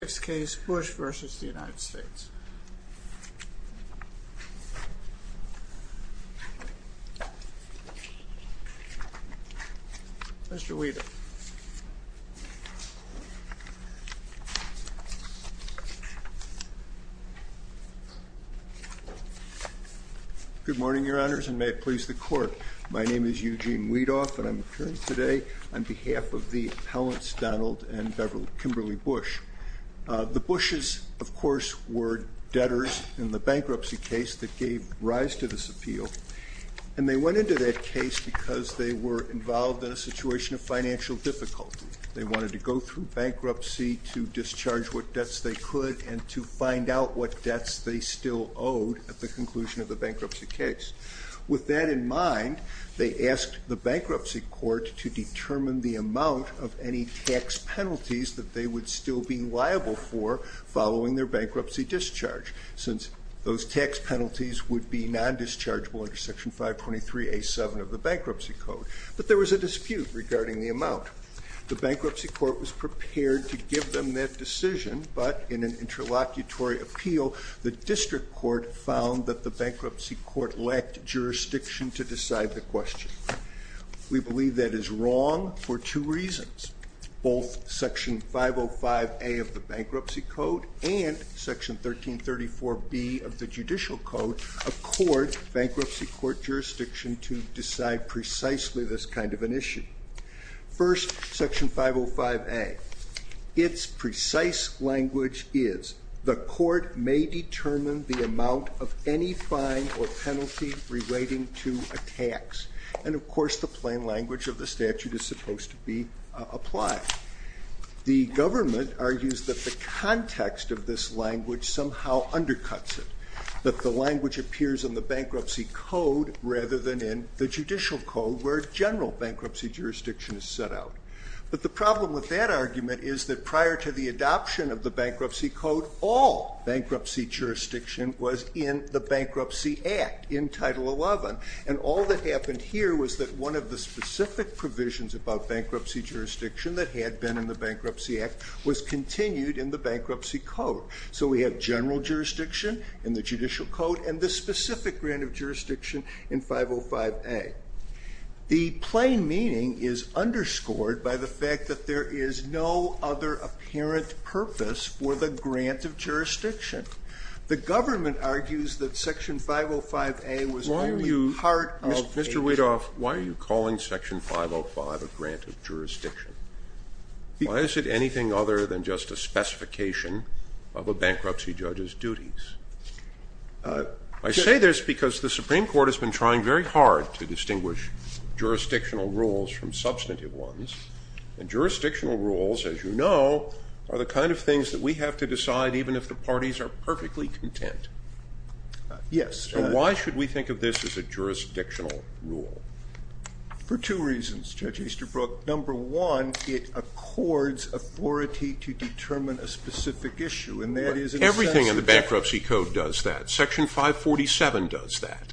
Next case, Bush v. United States Mr. Weedoff Good morning Your Honors and may it please the Court My name is Eugene Weedoff and I'm appearing today on behalf of the appellants Donald and Kimberly Bush The Bushes, of course, were debtors in the bankruptcy case that gave rise to this appeal And they went into that case because they were involved in a situation of financial difficulty They wanted to go through bankruptcy to discharge what debts they could and to find out what debts they still owed at the conclusion of the bankruptcy case With that in mind, they asked the Bankruptcy Court to determine the amount of any tax penalties that they would still be liable for following their bankruptcy discharge Since those tax penalties would be non-dischargeable under Section 523A7 of the Bankruptcy Code But there was a dispute regarding the amount The Bankruptcy Court was prepared to give them that decision But in an interlocutory appeal, the District Court found that the Bankruptcy Court lacked jurisdiction to decide the question We believe that is wrong for two reasons Both Section 505A of the Bankruptcy Code and Section 1334B of the Judicial Code accord Bankruptcy Court jurisdiction to decide precisely this kind of an issue First, Section 505A Its precise language is The court may determine the amount of any fine or penalty relating to a tax And of course the plain language of the statute is supposed to be applied The government argues that the context of this language somehow undercuts it That the language appears in the Bankruptcy Code rather than in the Judicial Code where general bankruptcy jurisdiction is set out But the problem with that argument is that prior to the adoption of the Bankruptcy Code all bankruptcy jurisdiction was in the Bankruptcy Act in Title 11 And all that happened here was that one of the specific provisions about bankruptcy jurisdiction that had been in the Bankruptcy Act was continued in the Bankruptcy Code So we have general jurisdiction in the Judicial Code and this specific grant of jurisdiction in 505A The plain meaning is underscored by the fact that there is no other apparent purpose for the grant of jurisdiction The government argues that Section 505A was only part of Mr. Weidoff, why are you calling Section 505 a grant of jurisdiction? Why is it anything other than just a specification of a bankruptcy judge's duties? I say this because the Supreme Court has been trying very hard to distinguish jurisdictional rules from substantive ones And jurisdictional rules, as you know, are the kind of things that we have to decide even if the parties are perfectly content So why should we think of this as a jurisdictional rule? For two reasons, Judge Easterbrook Number one, it accords authority to determine a specific issue Everything in the Bankruptcy Code does that Section 547 does that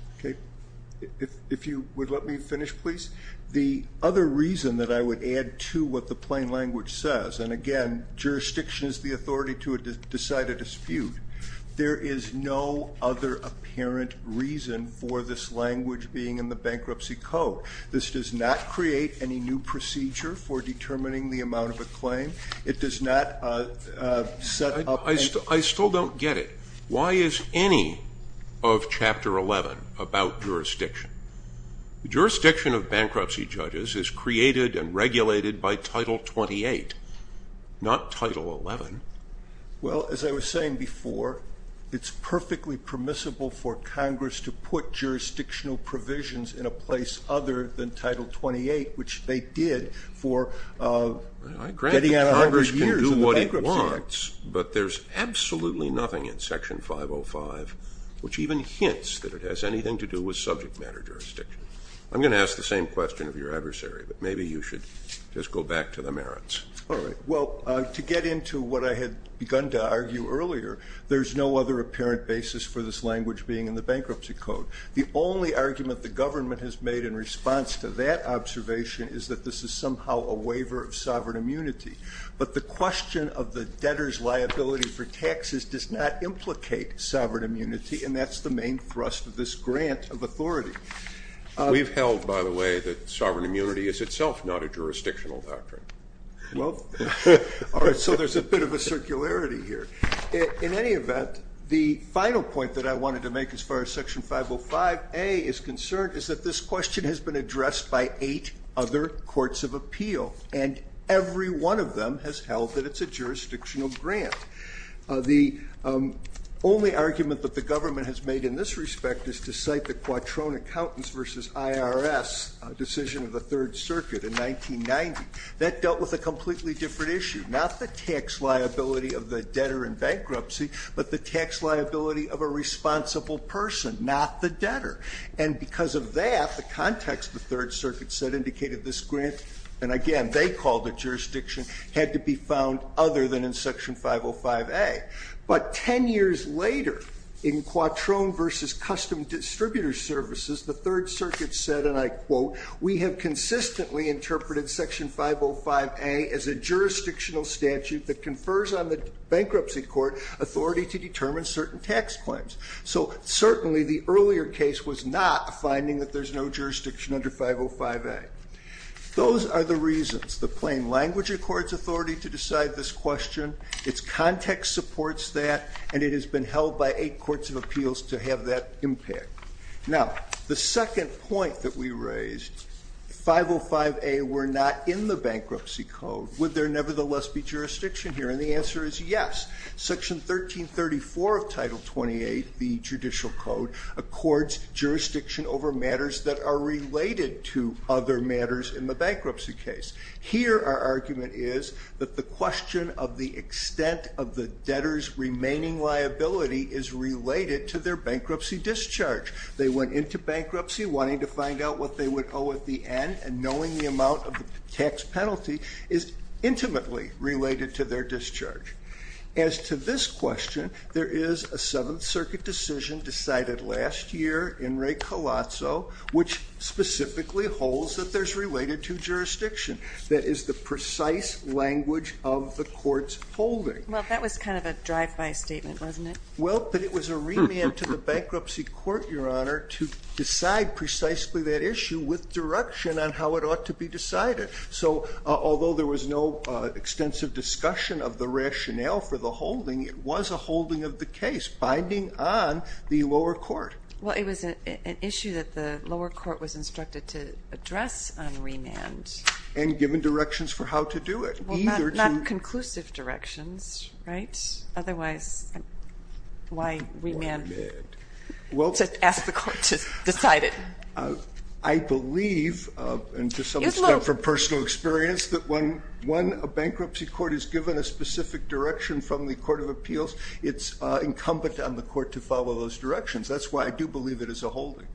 If you would let me finish, please The other reason that I would add to what the plain language says and again, jurisdiction is the authority to decide a dispute There is no other apparent reason for this language being in the Bankruptcy Code This does not create any new procedure for determining the amount of a claim I still don't get it Why is any of Chapter 11 about jurisdiction? Jurisdiction of bankruptcy judges is created and regulated by Title 28 Not Title 11 Well, as I was saying before It's perfectly permissible for Congress to put jurisdictional provisions in a place other than Title 28, which they did I grant that Congress can do what it wants but there's absolutely nothing in Section 505 which even hints that it has anything to do with subject matter jurisdiction I'm going to ask the same question of your adversary but maybe you should just go back to the merits Well, to get into what I had begun to argue earlier there's no other apparent basis for this language being in the Bankruptcy Code The only argument the government has made in response to that observation is that this is somehow a waiver of sovereign immunity but the question of the debtor's liability for taxes does not implicate sovereign immunity and that's the main thrust of this grant of authority We've held, by the way, that sovereign immunity is itself not a jurisdictional doctrine So there's a bit of a circularity here In any event, the final point that I wanted to make as far as Section 505A is concerned is that this question has been addressed by eight other courts of appeal and every one of them has held that it's a jurisdictional grant The only argument that the government has made in this respect is to cite the Quattrone Accountants v. IRS decision of the Third Circuit in 1990 That dealt with a completely different issue Not the tax liability of the debtor in bankruptcy but the tax liability of a responsible person, not the debtor And because of that, the context the Third Circuit set indicated this grant and again, they called it jurisdiction had to be found other than in Section 505A But ten years later, in Quattrone v. Custom Distributor Services the Third Circuit said, and I quote We have consistently interpreted Section 505A as a jurisdictional statute that confers on the bankruptcy court authority to determine certain tax claims So certainly the earlier case was not finding that there's no jurisdiction under 505A Those are the reasons. The plain language accords authority to decide this question Its context supports that and it has been held by eight courts of appeals to have that impact Now, the second point that we raised If 505A were not in the bankruptcy code would there nevertheless be jurisdiction here? And the answer is yes Section 1334 of Title 28, the Judicial Code Accords jurisdiction over matters that are related to other matters in the bankruptcy case Here, our argument is that the question of the extent of the debtor's remaining liability is related to their bankruptcy discharge They went into bankruptcy wanting to find out what they would owe at the end and knowing the amount of the tax penalty is intimately related to their discharge As to this question, there is a Seventh Circuit decision decided last year in Ray Colazzo, which specifically holds that there's related to jurisdiction That is the precise language of the court's holding Well, that was kind of a drive-by statement, wasn't it? Well, but it was a remand to the bankruptcy court, Your Honor to decide precisely that issue with direction on how it ought to be decided So, although there was no extensive discussion of the rationale for the holding it was a holding of the case, binding on the lower court Well, it was an issue that the lower court was instructed to address on remand And given directions for how to do it Well, not conclusive directions, right? Otherwise, why remand? To ask the court to decide it I believe, and to some extent from personal experience that when a bankruptcy court is given a specific direction from the Court of Appeals it's incumbent on the court to follow those directions That's why I do believe it is a holding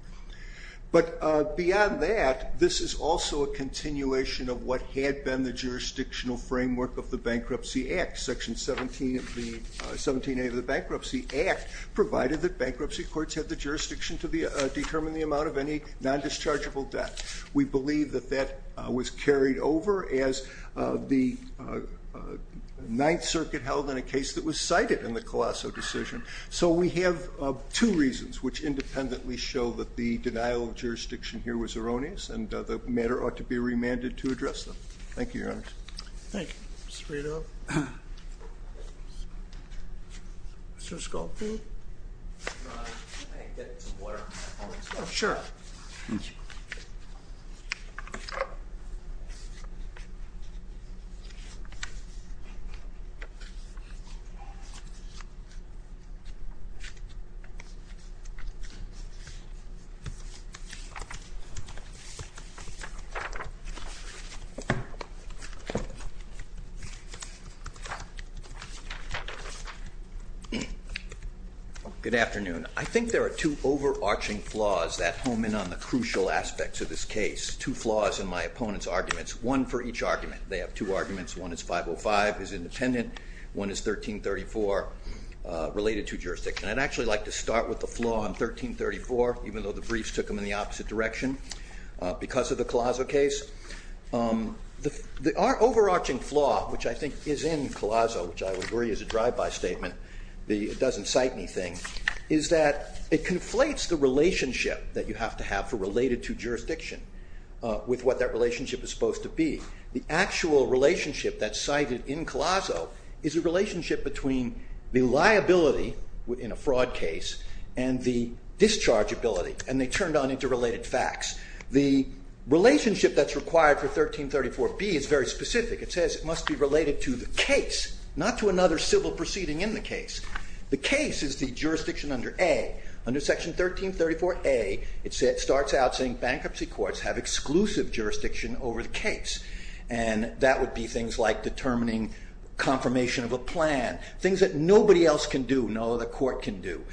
But beyond that, this is also a continuation of what had been the jurisdictional framework of the Bankruptcy Act Section 17A of the Bankruptcy Act provided that bankruptcy courts had the jurisdiction to determine the amount of any non-dischargeable debt We believe that that was carried over as the Ninth Circuit held in a case that was cited in the Colazzo decision So we have two reasons which independently show that the denial of jurisdiction here was erroneous and the matter ought to be remanded to address them Thank you, Your Honor Thank you, Mr. Frito Mr. Skolkiewicz? Can I get some water on my phone? Sure Thank you Good afternoon I think there are two overarching flaws that home in on the crucial aspects of this case Two flaws in my opponent's arguments One for each argument They have two arguments One is 505 is independent One is 1334 related to jurisdiction I'd actually like to start with the flaw in 1334 even though the briefs took them in the opposite direction because of the Colazzo case The overarching flaw which I think is in Colazzo which I would agree is a drive-by statement It doesn't cite anything is that it conflates the relationship that you have to have for related to jurisdiction with what that relationship is supposed to be The actual relationship that's cited in Colazzo is a relationship between the liability in a fraud case and the dischargeability and they turned on interrelated facts The relationship that's required for 1334B is very specific It says it must be related to the case not to another civil proceeding in the case The case is the jurisdiction under A Under section 1334A it starts out saying bankruptcy courts have exclusive jurisdiction over the case and that would be things like determining confirmation of a plan things that nobody else can do no other court can do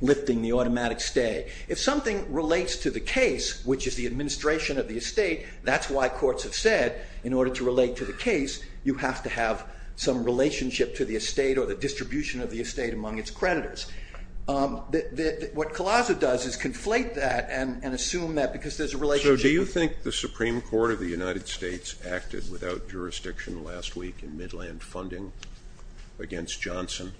lifting the automatic stay If something relates to the case which is the administration of the estate that's why courts have said in order to relate to the case you have to have some relationship to the estate or the distribution of the estate among its creditors What Colazzo does is conflate that and assume that because there's a relationship So do you think the Supreme Court of the United States acted without jurisdiction last week in Midland funding against Johnson?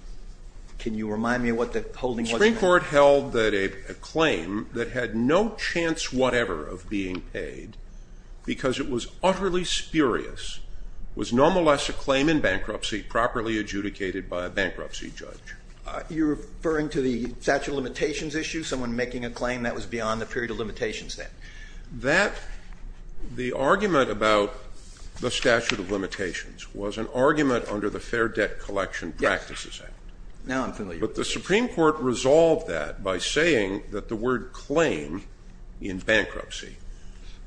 Can you remind me what the holding was? The Supreme Court held that a claim that had no chance whatever of being paid because it was utterly spurious was nonetheless a claim in bankruptcy properly adjudicated by a bankruptcy judge You're referring to the statute of limitations issue someone making a claim that was beyond the period of limitations then The argument about the statute of limitations was an argument under the Fair Debt Collection Practices Act Now I'm familiar with this But the Supreme Court resolved that by saying that the word claim in bankruptcy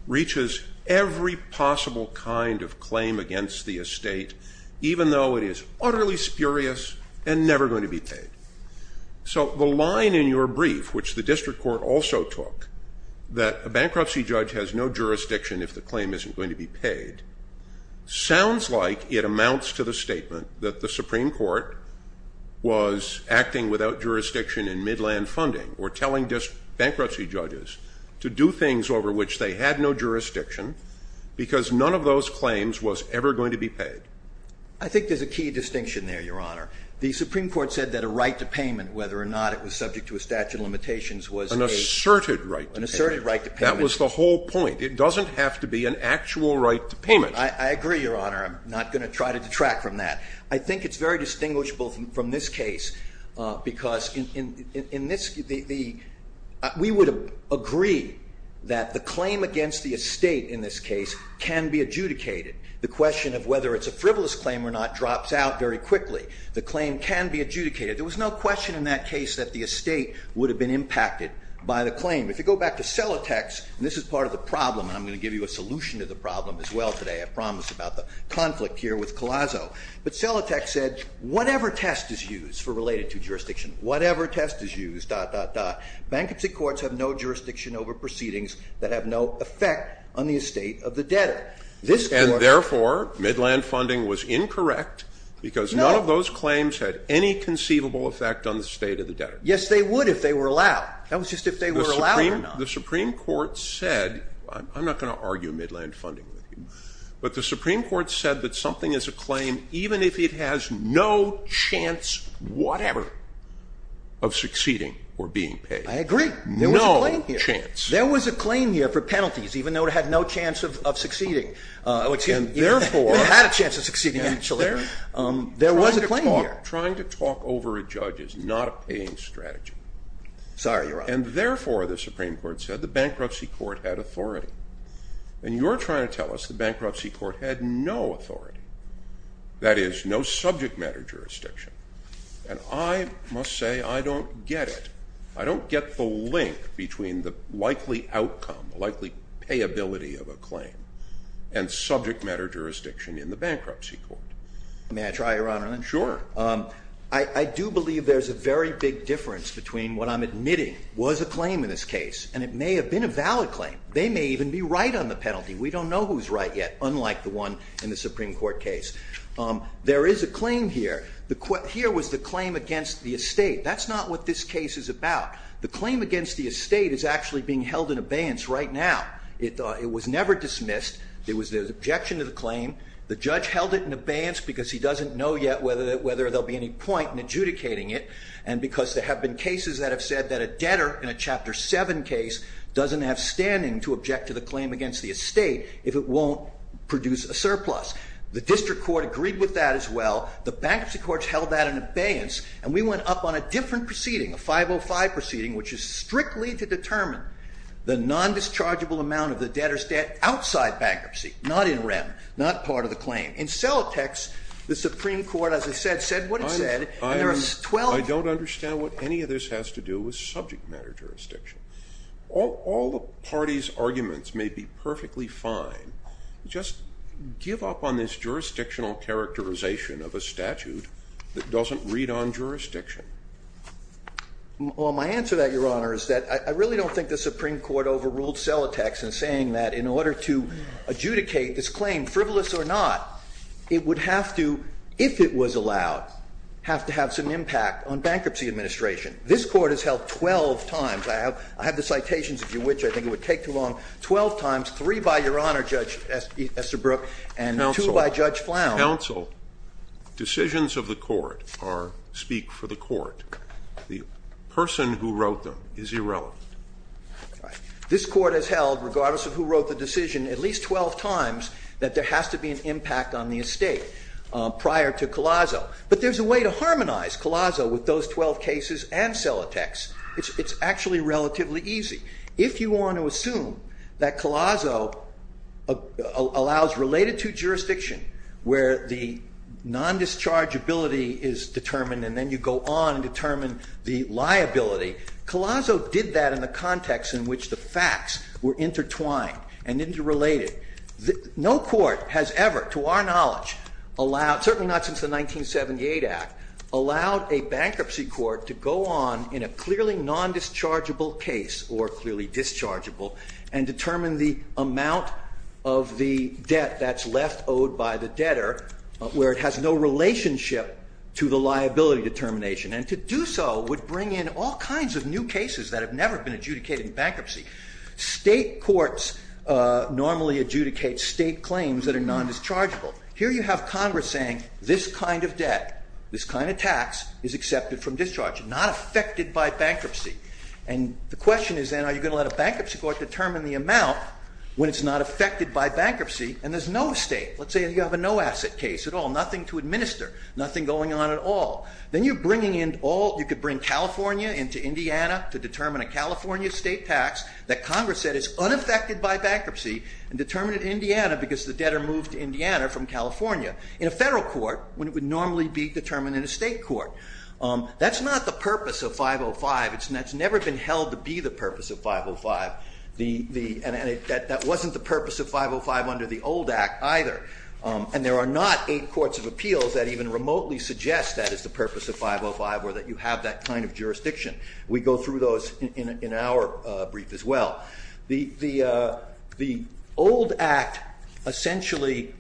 reaches every possible kind of claim against the estate even though it is utterly spurious and never going to be paid So the line in your brief which the district court also took that a bankruptcy judge has no jurisdiction if the claim isn't going to be paid sounds like it amounts to the statement that the Supreme Court was acting without jurisdiction in Midland funding or telling bankruptcy judges to do things over which they had no jurisdiction because none of those claims was ever going to be paid I think there's a key distinction there, Your Honor The Supreme Court said that a right to payment whether or not it was subject to a statute of limitations was an asserted right to payment That was the whole point It doesn't have to be an actual right to payment I agree, Your Honor I'm not going to try to detract from that I think it's very distinguishable from this case because we would agree that the claim against the estate in this case can be adjudicated The question of whether it's a frivolous claim or not drops out very quickly The claim can be adjudicated There was no question in that case that the estate would have been impacted by the claim If you go back to Selatech's and this is part of the problem and I'm going to give you a solution to the problem as well today I promised about the conflict here with Collazo But Selatech said whatever test is used for related to jurisdiction whatever test is used, dot, dot, dot Bankruptcy courts have no jurisdiction over proceedings that have no effect on the estate of the debtor And therefore, Midland Funding was incorrect because none of those claims had any conceivable effect on the estate of the debtor Yes, they would if they were allowed That was just if they were allowed or not The Supreme Court said I'm not going to argue Midland Funding with you But the Supreme Court said that something is a claim even if it has no chance whatever of succeeding or being paid I agree No chance There was a claim here for penalties even though it had no chance of succeeding And therefore It had a chance of succeeding actually There was a claim here Trying to talk over a judge is not a paying strategy Sorry, Your Honor And therefore, the Supreme Court said the Bankruptcy Court had authority And you're trying to tell us the Bankruptcy Court had no authority That is, no subject matter jurisdiction And I must say, I don't get it I don't get the link between the likely outcome likely payability of a claim and subject matter jurisdiction in the Bankruptcy Court May I try, Your Honor? Sure I do believe there's a very big difference between what I'm admitting was a claim in this case and it may have been a valid claim They may even be right on the penalty We don't know who's right yet unlike the one in the Supreme Court case There is a claim here Here was the claim against the estate That's not what this case is about The claim against the estate is actually being held in abeyance right now It was never dismissed It was an objection to the claim The judge held it in abeyance because he doesn't know yet whether there'll be any point in adjudicating it And because there have been cases that have said that a debtor in a Chapter 7 case doesn't have standing to object to the claim against the estate if it won't produce a surplus The District Court agreed with that as well The Bankruptcy Court held that in abeyance And we went up on a different proceeding a 505 proceeding which is strictly to determine the non-dischargeable amount of the debtor's debt outside bankruptcy not in rem not part of the claim In Celotex the Supreme Court, as I said, said what it said I don't understand what any of this has to do with subject matter jurisdiction All the parties' arguments may be perfectly fine Just give up on this jurisdictional characterization of a statute that doesn't read on jurisdiction Well, my answer to that, Your Honor, is that I really don't think the Supreme Court overruled Celotex in saying that in order to adjudicate this claim frivolous or not it would have to, if it was allowed have to have some impact on bankruptcy administration This Court has held 12 times I have the citations, if you wish I think it would take too long 12 times 3 by Your Honor, Judge Esterbrook and 2 by Judge Flown Counsel Decisions of the Court speak for the Court The person who wrote them is irrelevant This Court has held, regardless of who wrote the decision at least 12 times that there has to be an impact on the estate prior to Collazo But there's a way to harmonize Collazo with those 12 cases and Celotex It's actually relatively easy If you want to assume that Collazo allows related to jurisdiction where the non-dischargeability is determined and then you go on and determine the liability Collazo did that in the context in which the facts were intertwined and interrelated No court has ever, to our knowledge allowed, certainly not since the 1978 Act allowed a bankruptcy court to go on in a clearly non-dischargeable case or clearly dischargeable and determine the amount of the debt that's left owed by the debtor where it has no relationship to the liability determination and to do so would bring in all kinds of new cases that have never been adjudicated in bankruptcy State courts normally adjudicate state claims that are non-dischargeable Here you have Congress saying this kind of debt this kind of tax is accepted from discharge not affected by bankruptcy and the question is are you going to let a bankruptcy court determine the amount when it's not affected by bankruptcy and there's no estate Let's say you have a no-asset case at all nothing to administer nothing going on at all then you're bringing in all you could bring California into Indiana to determine a California state tax that Congress said is unaffected by bankruptcy and determined in Indiana because the debtor moved to Indiana from California in a federal court when it would normally be determined in a state court That's not the purpose of 505 It's never been held to be the purpose of 505 and that wasn't the purpose of 505 under the old Act either and there are not eight courts of appeals that even remotely suggest that is the purpose of 505 or that you have that kind of jurisdiction We go through those in our brief as well The old Act essentially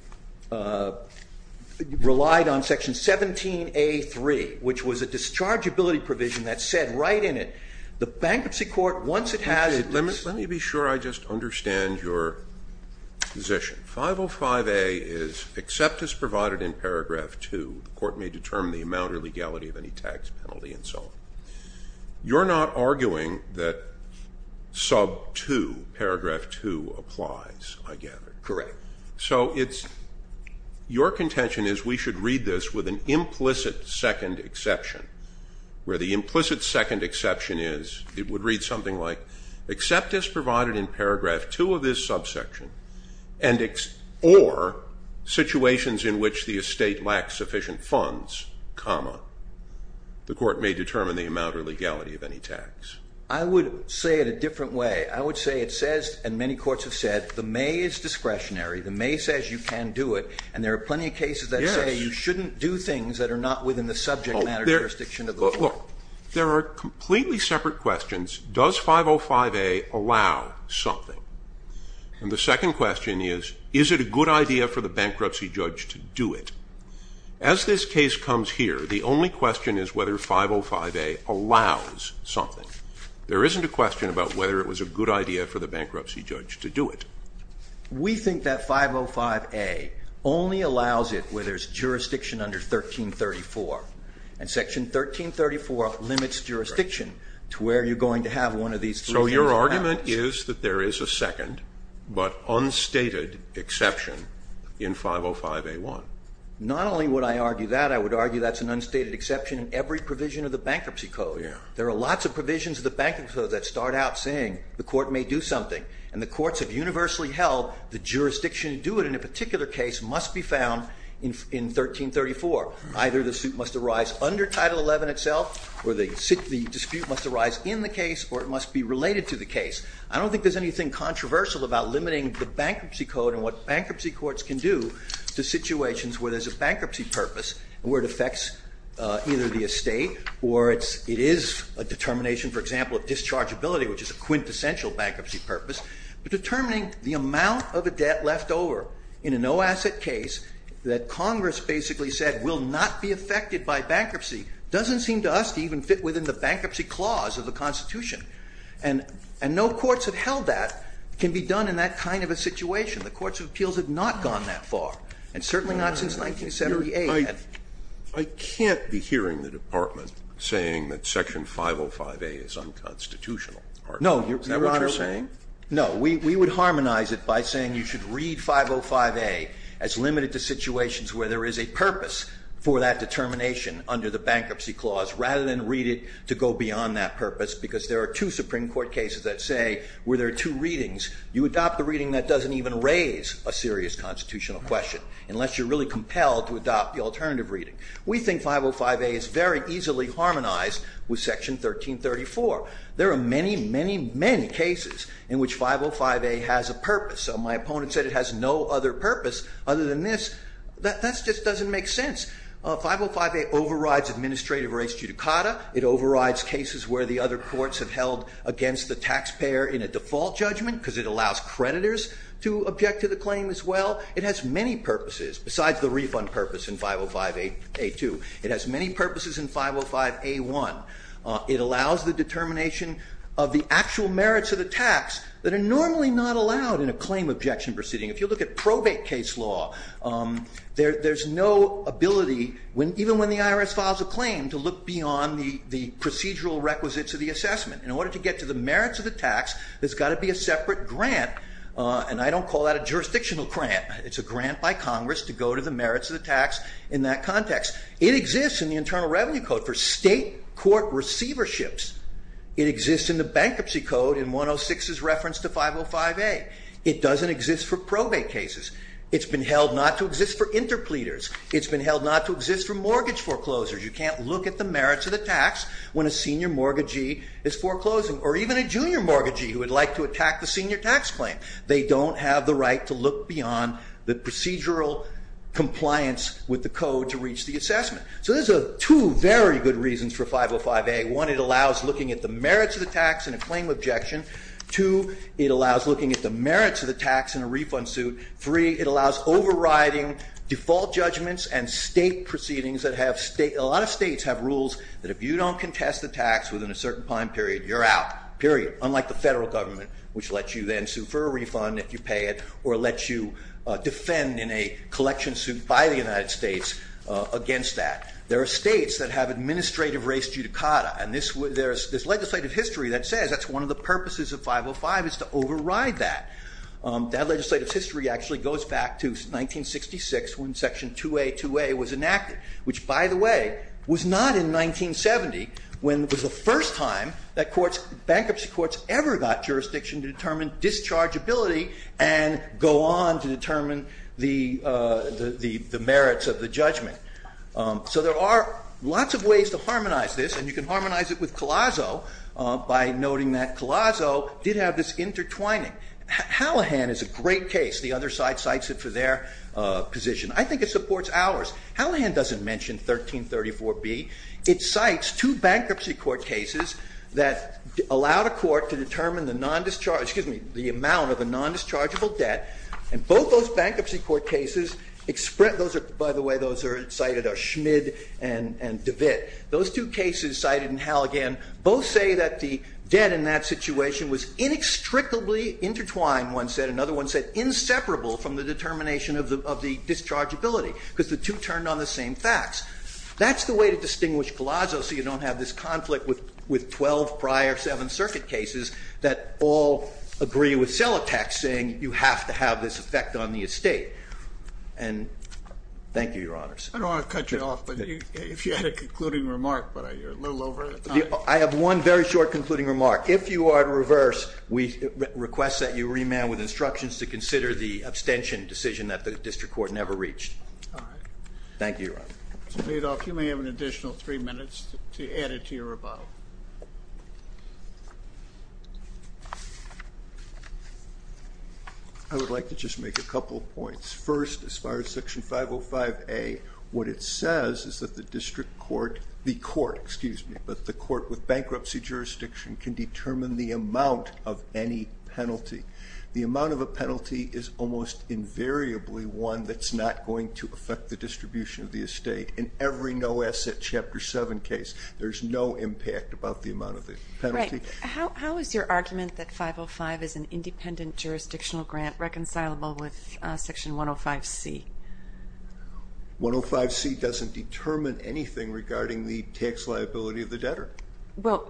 relied on section 17A.3 which was a dischargeability provision that said right in it the bankruptcy court once it had Let me be sure I just understand your position 505A is except as provided in paragraph 2 the court may determine the amount or legality of any tax penalty and so on You're not arguing that sub 2 paragraph 2 applies I gather Correct So it's your contention is we should read this with an implicit second exception where the implicit second exception is it would read something like except as provided in paragraph 2 of this subsection or situations in which the estate lacks sufficient funds comma the court may determine the amount or legality of any tax I would say it a different way I would say it says and many courts have said the may is discretionary the may says you can do it and there are plenty of cases that say you shouldn't do things that are not within the subject matter jurisdiction of the court There are completely separate questions Does 505A allow something? And the second question is Is it a good idea for the bankruptcy judge to do it? As this case comes here the only question is whether 505A allows something There isn't a question about whether it was a good idea for the bankruptcy judge to do it We think that 505A only allows it where there is jurisdiction under 1334 and section 1334 limits jurisdiction to where you're going to have one of these So your argument is that there is a second but unstated exception in 505A1 Not only would I argue that I would argue that's an unstated exception in every provision of the bankruptcy code There are lots of provisions of the bankruptcy code that start out saying the court may do something and the courts have universally held the jurisdiction to do it in a particular case must be found in 1334 Either the suit must arise under title 11 itself or the dispute must arise in the case or it must be related to the case I don't think there's anything controversial about limiting the bankruptcy code and what bankruptcy courts can do to situations where there's a bankruptcy purpose where it affects either the estate or it is a determination for example, of dischargeability which is a quintessential bankruptcy purpose but determining the amount of a debt left over in a no-asset case that Congress basically said will not be affected by bankruptcy doesn't seem to us to even fit within the bankruptcy clause of the Constitution and no courts have held that can be done in that kind of a situation the courts of appeals have not gone that far and certainly not since 1978 I can't be hearing the department saying that section 505A is unconstitutional No, Your Honor Is that what you're saying? No, we would harmonize it by saying you should read 505A as limited to situations where there is a purpose for that determination under the bankruptcy clause rather than read it to go beyond that purpose because there are two Supreme Court cases that say where there are two readings you adopt the reading that doesn't even raise a serious constitutional question unless you're really compelled to adopt the alternative reading we think 505A is very easily harmonized with section 1334 there are many, many, many cases in which 505A has a purpose so my opponent said it has no other purpose other than this that just doesn't make sense 505A overrides administrative rates judicata it overrides cases where the other courts have held against the taxpayer in a default judgment because it allows creditors to object to the claim as well it has many purposes besides the refund purpose in 505A2 it has many purposes in 505A1 it allows the determination of the actual merits of the tax that are normally not allowed in a claim objection proceeding if you look at probate case law there's no ability even when the IRS files a claim to look beyond the procedural requisites of the assessment in order to get to the merits of the tax there's got to be a separate grant and I don't call that a jurisdictional grant it's a grant by Congress to go to the merits of the tax in that context it exists in the Internal Revenue Code for state court receiverships it exists in the Bankruptcy Code in 106's reference to 505A it doesn't exist for probate cases it's been held not to exist for interpleaders it's been held not to exist for mortgage foreclosers you can't look at the merits of the tax when a senior mortgagee is foreclosing or even a junior mortgagee who would like to attack the senior tax claim they don't have the right to look beyond the procedural compliance with the code to reach the assessment so there's two very good reasons for 505A one, it allows looking at the merits of the tax in a claim objection two, it allows looking at the merits of the tax in a refund suit three, it allows overriding default judgments and state proceedings a lot of states have rules that if you don't contest the tax within a certain time period you're out, period unlike the federal government which lets you then sue for a refund if you pay it or lets you defend in a collection suit by the United States against that there are states that have administrative race judicata and there's legislative history that says that's one of the purposes of 505 is to override that that legislative history actually goes back to 1966 when section 2A 2A was enacted which by the way was not in 1970 when it was the first time that courts, bankruptcy courts ever got jurisdiction to determine dischargeability and go on to determine the merits of the judgment so there are lots of ways to harmonize this and you can harmonize it with Collazo by noting that Collazo did have this intertwining Hallahan is a great case the other side cites it for their position I think it supports ours Hallahan doesn't mention 1334B it cites two bankruptcy court cases that allowed a court to determine the non-discharge excuse me the amount of a non-dischargeable debt and both those bankruptcy court cases by the way those are cited are Schmid and DeVitt those two cases cited in Hallahan both say that the debt in that situation was inextricably intertwined one said another one said inseparable from the determination of the dischargeability because the two turned on the same facts that's the way to distinguish Collazo so you don't have this conflict with 12 prior 7th Circuit cases that all agree with Sellotek saying you have to have this effect on the estate and thank you your honors I don't want to cut you off but if you had a concluding remark but you're a little over time I have one very short concluding remark if you are to reverse we request that you remand with instructions to consider the abstention decision that the district court never reached thank you your honor Mr. Badoff you may have an additional 3 minutes to add it to your rebuttal I would like to just make a couple of points first as far as section 505A what it says is that the district court the court excuse me but the court with bankruptcy jurisdiction can determine the amount of any penalty the amount of a penalty is almost invariably one that's not going to affect the distribution of the estate in every no asset chapter 7 case there's no impact about the amount of the penalty how is your argument that 505 is an independent jurisdictional grant reconcilable with section 105C 105C doesn't determine anything regarding the tax liability of the debtor well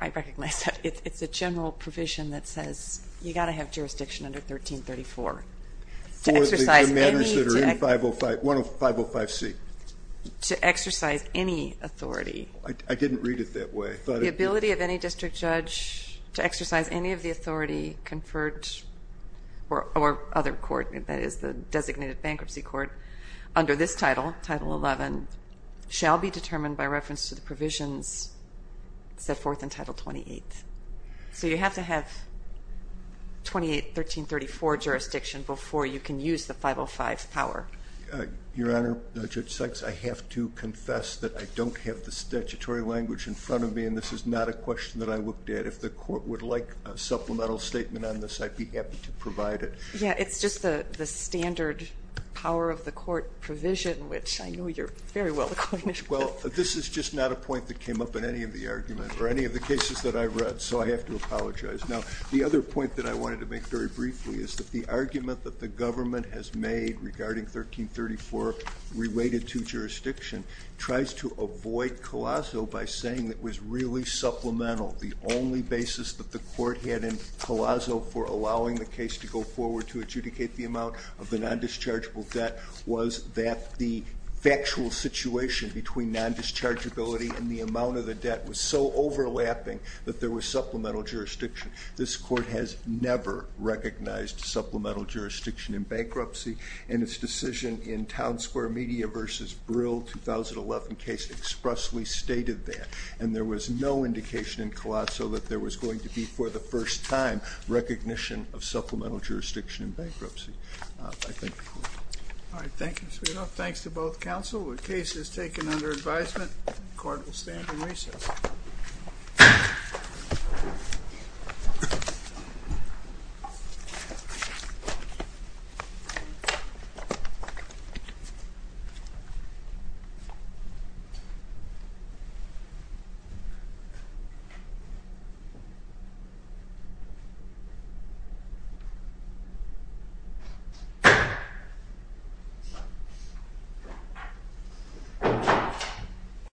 I recognize that it's a general provision that says you got to have jurisdiction under 1334 to exercise any 105C to exercise any authority I didn't read it that way the ability of any district judge to exercise any of the authority conferred or other court that is the designated bankruptcy court under this title, title 11 shall be determined by reference to the provisions set forth in title 28 so you have to have 28, 1334 jurisdiction before you can use the 505 power your honor, Judge Sykes I have to confess that I don't have the statutory language in front of me and this is not a question that I looked at if the court would like a supplemental statement on this I'd be happy to provide it yeah, it's just the standard power of the court provision which I know you're very well acquainted with well, this is just not a point that came up in any of the argument or any of the cases that I've read so I have to apologize now, the other point that I wanted to make very briefly is that the argument that the government has made regarding 1334 related to jurisdiction tries to avoid Colasso by saying that it was really supplemental the only basis that the court had in Colasso for allowing the case to go forward to adjudicate the amount of the non-dischargeable debt was that the actual situation between non-dischargeability and the amount of the debt was so overlapping that there was supplemental jurisdiction this court has never recognized supplemental jurisdiction in bankruptcy and its decision in Town Square Media versus Brill 2011 case expressly stated that and there was no indication in Colasso that there was going to be for the first time recognition of supplemental jurisdiction in bankruptcy I thank the court all right thank you sweetheart thanks to both counsel the case is taken under advisement the court will stand in recess Thank you